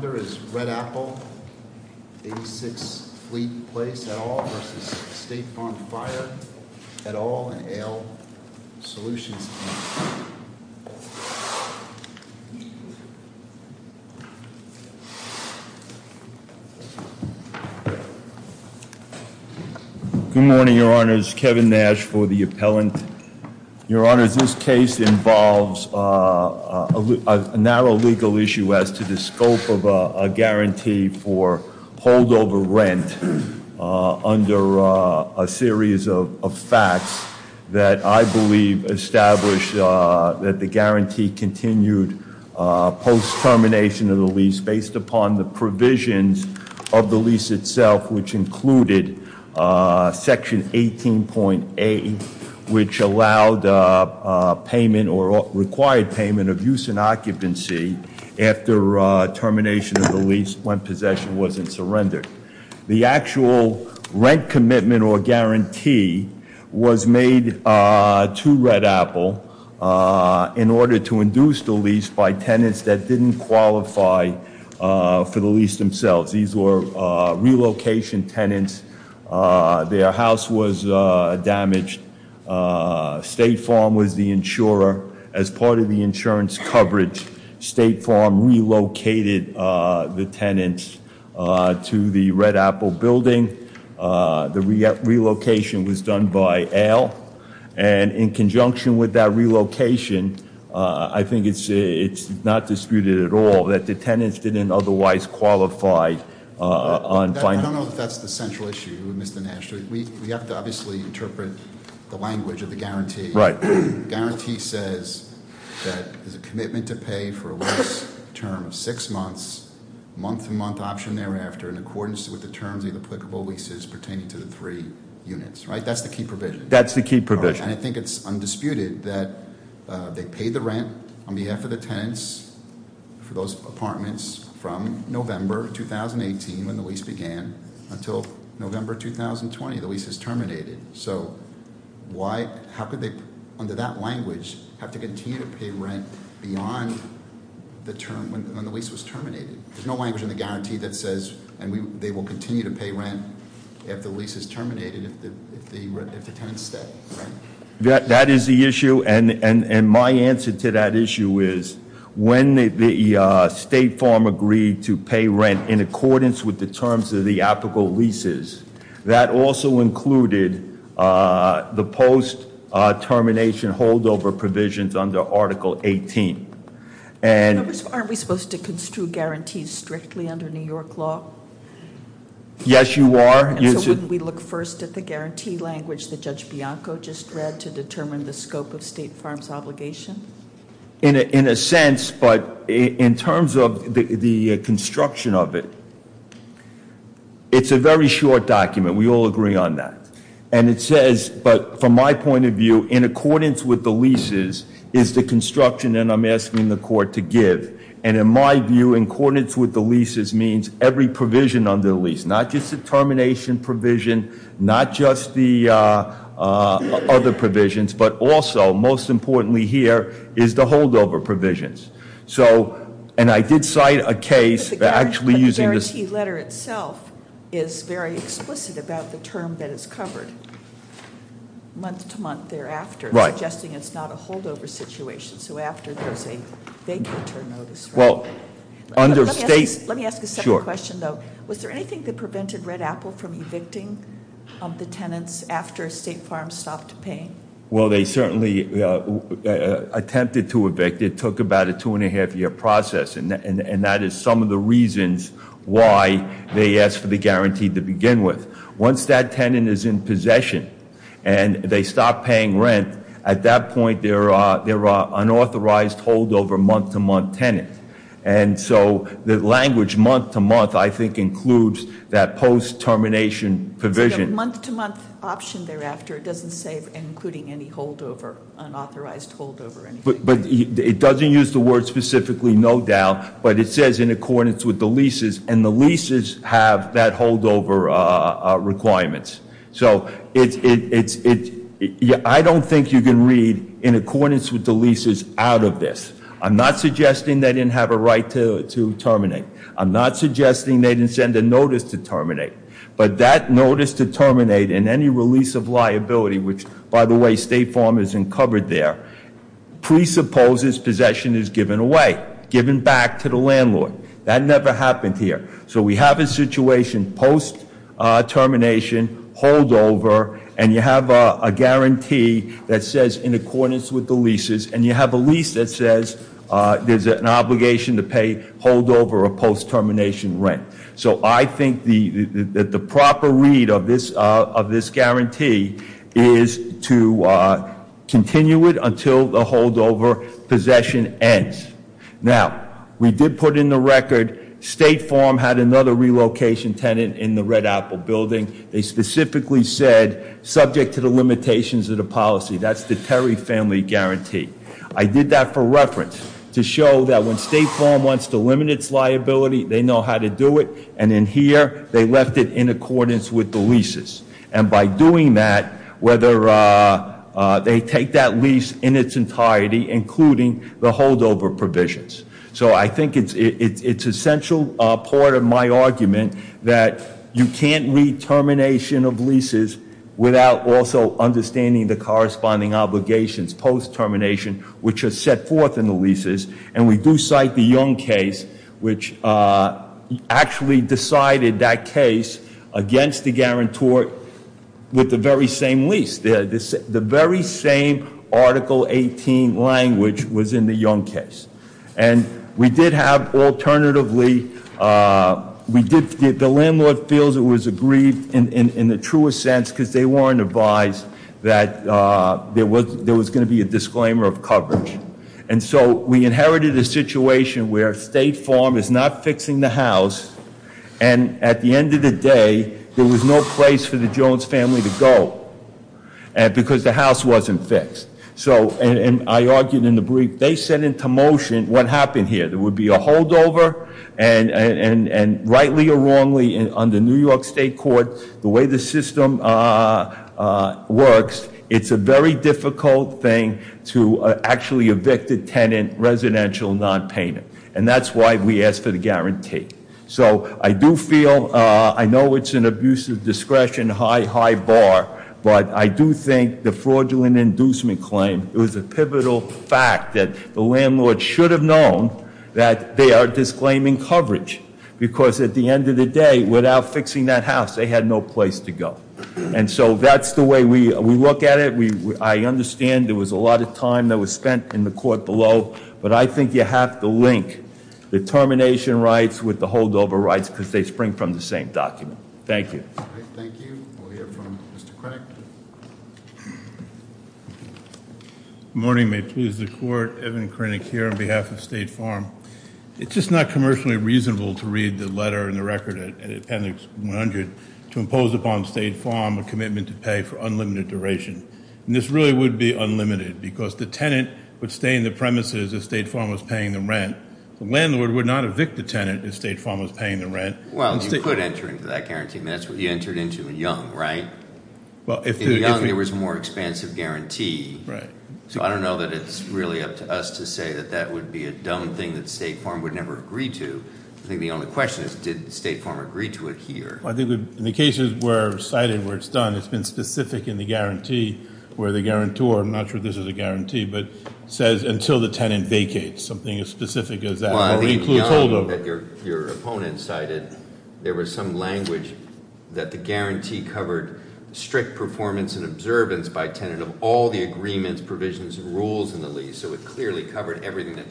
Good morning, your honors. Kevin Nash for the appellant. Your honors, this case involves a narrow legal issue as to the scope of a guarantee for holdover rent under a series of facts that I believe established that the guarantee continued post-termination of the lease based upon the provisions of the lease itself, which included Section 18.8, which allowed payment or required payment of use and occupancy after termination of the lease when possession wasn't surrendered. The actual rent commitment or guarantee was made to Red Apple in order to induce the lease by tenants that didn't qualify for the lease themselves. These were relocation tenants. Their house was damaged. State Farm was the insurer. As part of the insurance coverage, State Farm relocated the tenants to the Red Apple building. The relocation was done by Al, and in conjunction with that relocation, I think it's not disputed at all that the tenants didn't otherwise qualify. I don't know if that's the central issue, Mr. Nash. We have to obviously interpret the language of the guarantee. The guarantee says that there's a commitment to pay for a lease term of six months, month-to-month option thereafter in accordance with the terms of the applicable leases pertaining to the three units. That's the key provision. That's the key provision. And I think it's undisputed that they paid the rent on behalf of the tenants for those apartments from November 2018, when the lease began, until November 2020, the lease is terminated. So how could they, under that language, have to continue to pay rent beyond when the lease was terminated? There's no language in the guarantee that says they will continue to pay rent if the lease is terminated, if the tenants stay, right? That is the issue, and my answer to that issue is, when the state farm agreed to pay rent in accordance with the terms of the applicable leases, that also included the post-termination holdover provisions under Article 18. And- Aren't we supposed to construe guarantees strictly under New York law? Yes, you are. And so wouldn't we look first at the guarantee language that Judge Bianco just read to determine the scope of state farms' obligation? In a sense, but in terms of the construction of it, it's a very short document. We all agree on that. And it says, but from my point of view, in accordance with the leases is the construction, and I'm asking the court to give. And in my view, in accordance with the leases means every provision under the lease, not just the termination provision, not just the other provisions, but also, most importantly here, is the holdover provisions. So, and I did cite a case actually using this- But the guarantee letter itself is very explicit about the term that is covered month to month thereafter. Right. Suggesting it's not a holdover situation, so after there's a big return notice. Well, under state- Let me ask a second question though. Was there anything that prevented Red Apple from evicting the tenants after a state farm stopped paying? Well, they certainly attempted to evict. It took about a two and a half year process. And that is some of the reasons why they asked for the guarantee to begin with. Once that tenant is in possession and they stop paying rent, at that point, they're an unauthorized holdover month to month tenant. And so the language month to month, I think, includes that post termination provision. Is it a month to month option thereafter? It doesn't say including any holdover, unauthorized holdover or anything. But it doesn't use the word specifically no doubt, but it says in accordance with the leases. And the leases have that holdover requirements. So I don't think you can read in accordance with the leases out of this. I'm not suggesting they didn't have a right to terminate. I'm not suggesting they didn't send a notice to terminate. But that notice to terminate and any release of liability, which, by the way, state farm isn't covered there, presupposes possession is given away, given back to the landlord. That never happened here. So we have a situation post termination, holdover, and you have a guarantee that says in accordance with the leases, and you have a lease that says there's an obligation to pay holdover or post termination rent. So I think that the proper read of this guarantee is to continue it until the holdover possession ends. Now, we did put in the record, state farm had another relocation tenant in the Red Apple building. They specifically said, subject to the limitations of the policy, that's the Terry family guarantee. I did that for reference to show that when state farm wants to limit its liability, they know how to do it. And in here, they left it in accordance with the leases. And by doing that, whether they take that lease in its entirety, including the holdover provisions. So I think it's essential part of my argument that you can't read termination of leases without also understanding the corresponding obligations post termination, which are set forth in the leases. And we do cite the Young case, which actually decided that case against the guarantor with the very same lease. The very same Article 18 language was in the Young case. And we did have alternatively, the landlord feels it was agreed in the truest sense, because they weren't advised that there was going to be a disclaimer of coverage. And so we inherited a situation where state farm is not fixing the house. And at the end of the day, there was no place for the Jones family to go, because the house wasn't fixed. So, and I argued in the brief, they set into motion what happened here. There would be a holdover, and rightly or wrongly, under New York State court, the way the system works, it's a very difficult thing to actually evict a tenant, residential, non-payment. And that's why we ask for the guarantee. So I do feel, I know it's an abuse of discretion, high, high bar, but I do think the fraudulent inducement claim, it was a pivotal fact that the landlord should have known that they are disclaiming coverage. Because at the end of the day, without fixing that house, they had no place to go. And so that's the way we look at it. I understand there was a lot of time that was spent in the court below. But I think you have to link the termination rights with the holdover rights, because they spring from the same document. Thank you. Thank you. We'll hear from Mr. Crack. Good morning. May it please the court. Evan Crinnick here on behalf of State Farm. It's just not commercially reasonable to read the letter in the record at appendix 100 to impose upon State Farm a commitment to pay for unlimited duration. And this really would be unlimited, because the tenant would stay in the premises if State Farm was paying the rent. The landlord would not evict the tenant if State Farm was paying the rent. Well, you could enter into that guarantee. That's what you entered into in Young, right? Well, if- In Young, there was a more expansive guarantee. Right. So I don't know that it's really up to us to say that that would be a dumb thing that State Farm would never agree to. I think the only question is, did State Farm agree to it here? In the cases cited where it's done, it's been specific in the guarantee where the guarantor, I'm not sure this is a guarantee, but says until the tenant vacates. Something as specific as that. Well, I think in Young that your opponent cited, there was some language that the guarantee covered strict performance and observance by tenant of all the agreements, provisions, and rules in the lease. So it clearly covered everything that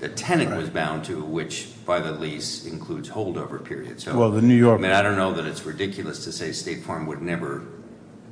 the tenant was bound to, which by the lease includes holdover periods. Well, the New York- I mean, I don't know that it's ridiculous to say State Farm would never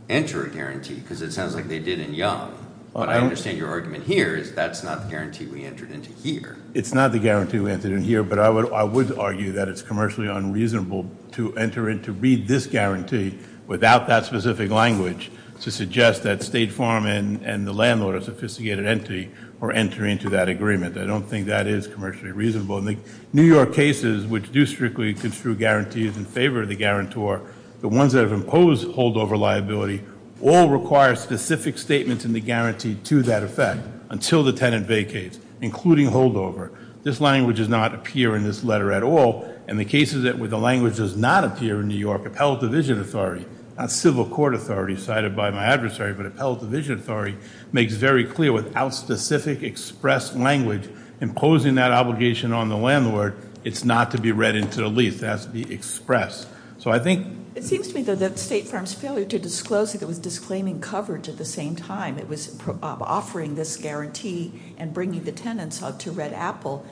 enter a guarantee, because it sounds like they did in Young. But I understand your argument here is that's not the guarantee we entered into here. It's not the guarantee we entered in here, but I would argue that it's commercially unreasonable to enter and to read this guarantee without that specific language to suggest that State Farm and the landlord, a sophisticated entity, are entering into that agreement. I don't think that is commercially reasonable. In the New York cases, which do strictly construe guarantees in favor of the guarantor, the ones that have imposed holdover liability all require specific statements in the guarantee to that effect. Until the tenant vacates, including holdover. This language does not appear in this letter at all. In the cases where the language does not appear in New York, appellate division authority, not civil court authority cited by my adversary, but appellate division authority, makes very clear without specific express language imposing that obligation on the landlord, it's not to be read into the lease, it has to be expressed. So I think- It seems to me, though, that State Farm's failure to disclose it was disclaiming coverage at the same time. It was offering this guarantee and bringing the tenants out to Red Apple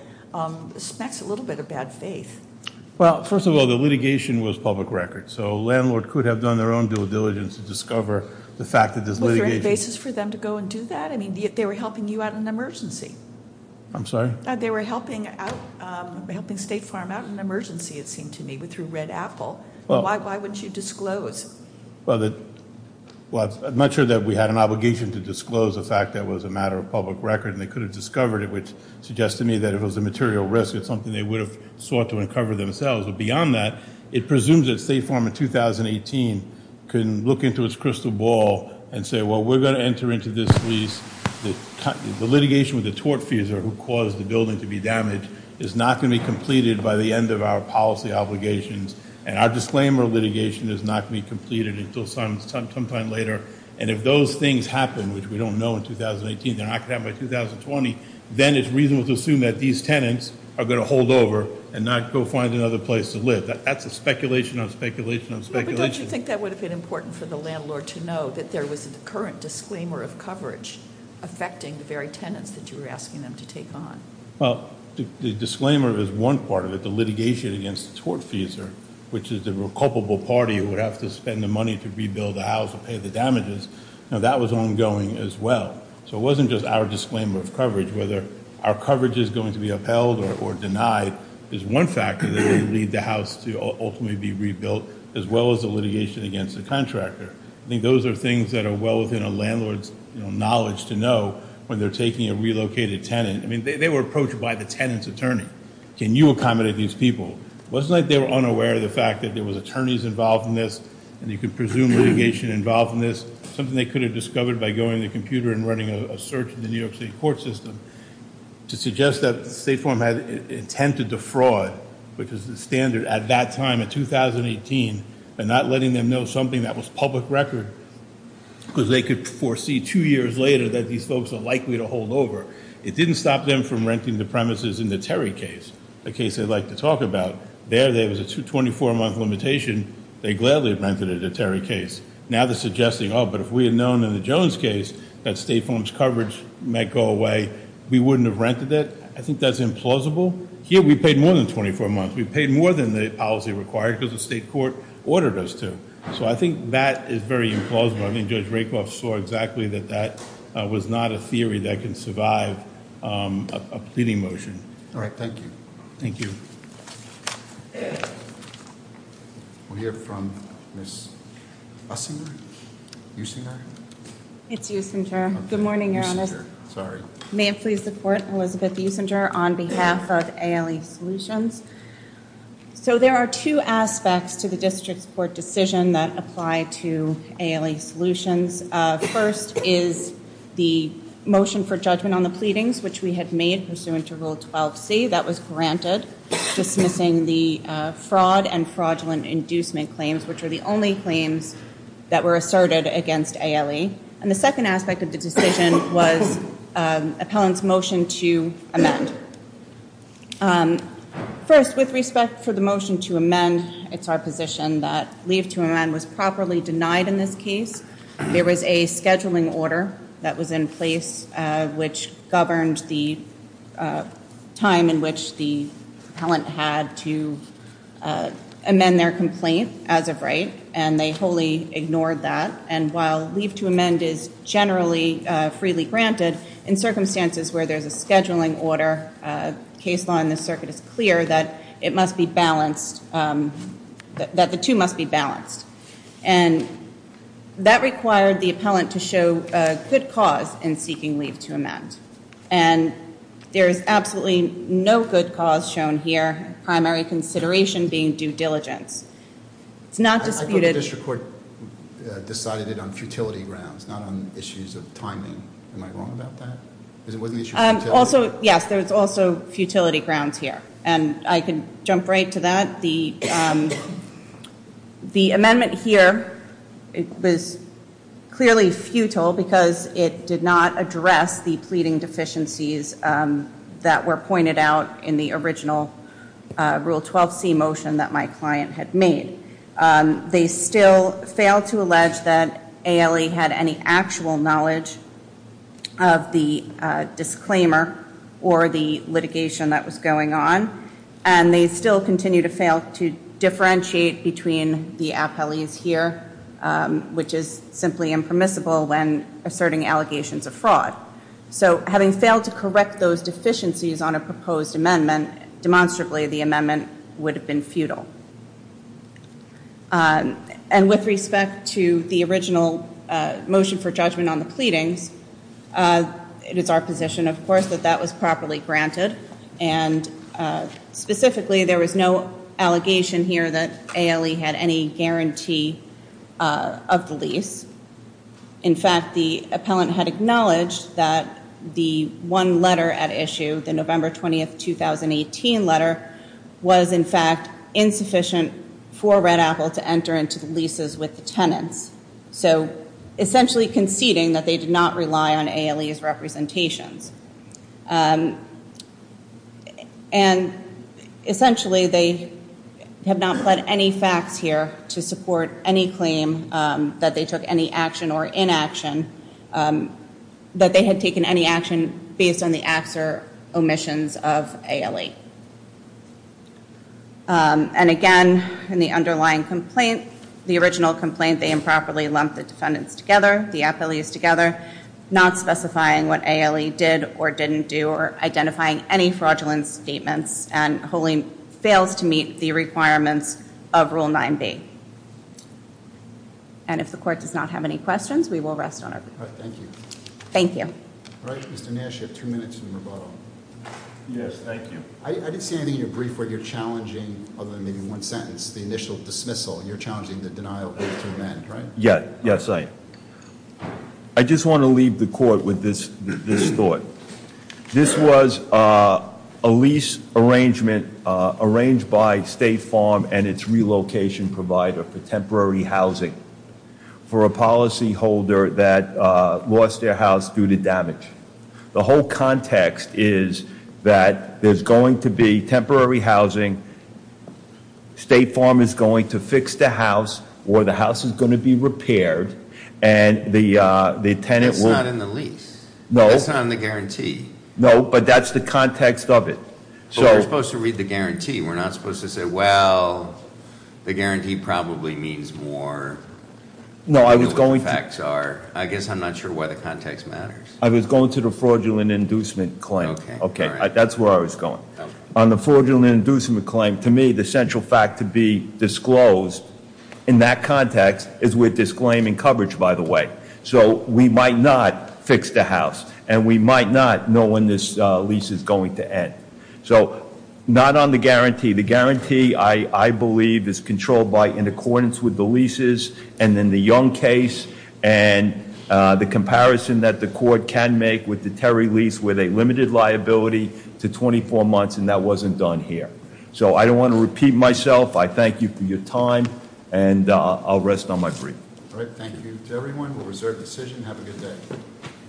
smacks a little bit of bad faith. Well, first of all, the litigation was public record. So a landlord could have done their own due diligence to discover the fact that this litigation- Was there any basis for them to go and do that? I mean, they were helping you out in an emergency. I'm sorry? They were helping State Farm out in an emergency, it seemed to me, through Red Apple. Why wouldn't you disclose? Well, I'm not sure that we had an obligation to disclose the fact that it was a matter of public record and they could have discovered it, which suggests to me that if it was a material risk, it's something they would have sought to uncover themselves. But beyond that, it presumes that State Farm in 2018 can look into its crystal ball and say, well, we're going to enter into this lease. The litigation with the tortfeasor who caused the building to be damaged is not going to be completed by the end of our policy obligations, and our disclaimer of litigation is not going to be completed until sometime later, and if those things happen, which we don't know in 2018, they're not going to happen by 2020, then it's reasonable to assume that these tenants are going to hold over and not go find another place to live. That's a speculation on speculation on speculation. But don't you think that would have been important for the landlord to know, that there was a current disclaimer of coverage affecting the very tenants that you were asking them to take on? Well, the disclaimer is one part of it. The litigation against the tortfeasor, which is the culpable party who would have to spend the money to rebuild the house or pay the damages, that was ongoing as well. So it wasn't just our disclaimer of coverage. Whether our coverage is going to be upheld or denied is one factor that would lead the house to ultimately be rebuilt, as well as the litigation against the contractor. I think those are things that are well within a landlord's knowledge to know when they're taking a relocated tenant. I mean, they were approached by the tenant's attorney. Can you accommodate these people? It wasn't like they were unaware of the fact that there was attorneys involved in this, and you could presume litigation involved in this. Something they could have discovered by going to the computer and running a search in the New York City court system to suggest that State Farm had intended to fraud, which is the standard at that time in 2018, and not letting them know something that was public record, because they could foresee two years later that these folks are likely to hold over. It didn't stop them from renting the premises in the Terry case, the case I'd like to talk about. There, there was a 24-month limitation. They gladly rented it at Terry case. Now they're suggesting, oh, but if we had known in the Jones case that State Farm's coverage might go away, we wouldn't have rented it. I think that's implausible. Here, we paid more than 24 months. We paid more than the policy required because the state court ordered us to. So I think that is very implausible. I think Judge Rakoff saw exactly that that was not a theory that can survive a pleading motion. All right, thank you. Thank you. We'll hear from Ms. Usinger. Usinger? It's Usinger. Good morning, Your Honor. Usinger, sorry. May it please the court, Elizabeth Usinger on behalf of ALE Solutions. So there are two aspects to the district's court decision that apply to ALE Solutions. First is the motion for judgment on the pleadings, which we had made pursuant to Rule 12C. That was granted, dismissing the fraud and fraudulent inducement claims, which were the only claims that were asserted against ALE. And the second aspect of the decision was appellant's motion to amend. First, with respect for the motion to amend, it's our position that leave to amend was properly denied in this case. There was a scheduling order that was in place which governed the time in which the appellant had to amend their complaint as of right, and they wholly ignored that. And while leave to amend is generally freely granted, in circumstances where there's a scheduling order, case law in this circuit is clear that it must be balanced, that the two must be balanced. And that required the appellant to show good cause in seeking leave to amend. And there is absolutely no good cause shown here, primary consideration being due diligence. It's not disputed. The district court decided it on futility grounds, not on issues of timing. Am I wrong about that? Because it wasn't an issue of futility. Also, yes, there's also futility grounds here. And I can jump right to that. The amendment here was clearly futile because it did not address the pleading deficiencies that were pointed out in the original Rule 12C motion that my client had made. They still failed to allege that ALE had any actual knowledge of the disclaimer or the litigation that was going on. And they still continue to fail to differentiate between the appellees here, which is simply impermissible when asserting allegations of fraud. So having failed to correct those deficiencies on a proposed amendment, demonstrably the amendment would have been futile. And with respect to the original motion for judgment on the pleadings, it is our position, of course, that that was properly granted. And specifically, there was no allegation here that ALE had any guarantee of the lease. In fact, the appellant had acknowledged that the one letter at issue, the November 20, 2018 letter, was, in fact, insufficient for Red Apple to enter into the leases with the tenants. So essentially conceding that they did not rely on ALE's representations. And essentially, they have not pled any facts here to support any claim that they took any action or inaction, that they had taken any action based on the acts or omissions of ALE. And again, in the underlying complaint, the original complaint, they improperly lumped the defendants together, the appellees together, not specifying what ALE did or didn't do, or identifying any fraudulent statements, and wholly fails to meet the requirements of Rule 9b. And if the court does not have any questions, we will rest on our feet. All right. Thank you. Thank you. All right. Mr. Nash, you have two minutes in rebuttal. Yes. Thank you. I didn't see anything in your brief where you're challenging, other than maybe one sentence, the initial dismissal. You're challenging the denial of the two men, right? Yes. Yes, I am. I just want to leave the court with this thought. This was a lease arrangement arranged by State Farm and its relocation provider for temporary housing for a policyholder that lost their house due to damage. The whole context is that there's going to be temporary housing. State Farm is going to fix the house, or the house is going to be repaired, and the tenant will- That's not in the lease. No. That's not in the guarantee. No, but that's the context of it. But we're supposed to read the guarantee. We're not supposed to say, well, the guarantee probably means more than what the facts are. I guess I'm not sure why the context matters. I was going to the fraudulent inducement claim. Okay. All right. That's where I was going. Okay. On the fraudulent inducement claim, to me, the central fact to be disclosed in that context is we're disclaiming coverage, by the way. So, we might not fix the house, and we might not know when this lease is going to end. So, not on the guarantee. The guarantee, I believe, is controlled by in accordance with the leases, and in the Young case, and the comparison that the court can make with the Terry lease with a limited liability to 24 months, and that wasn't done here. So, I don't want to repeat myself. I thank you for your time, and I'll rest on my brief. All right. Thank you to everyone. We'll reserve decision. Have a good day.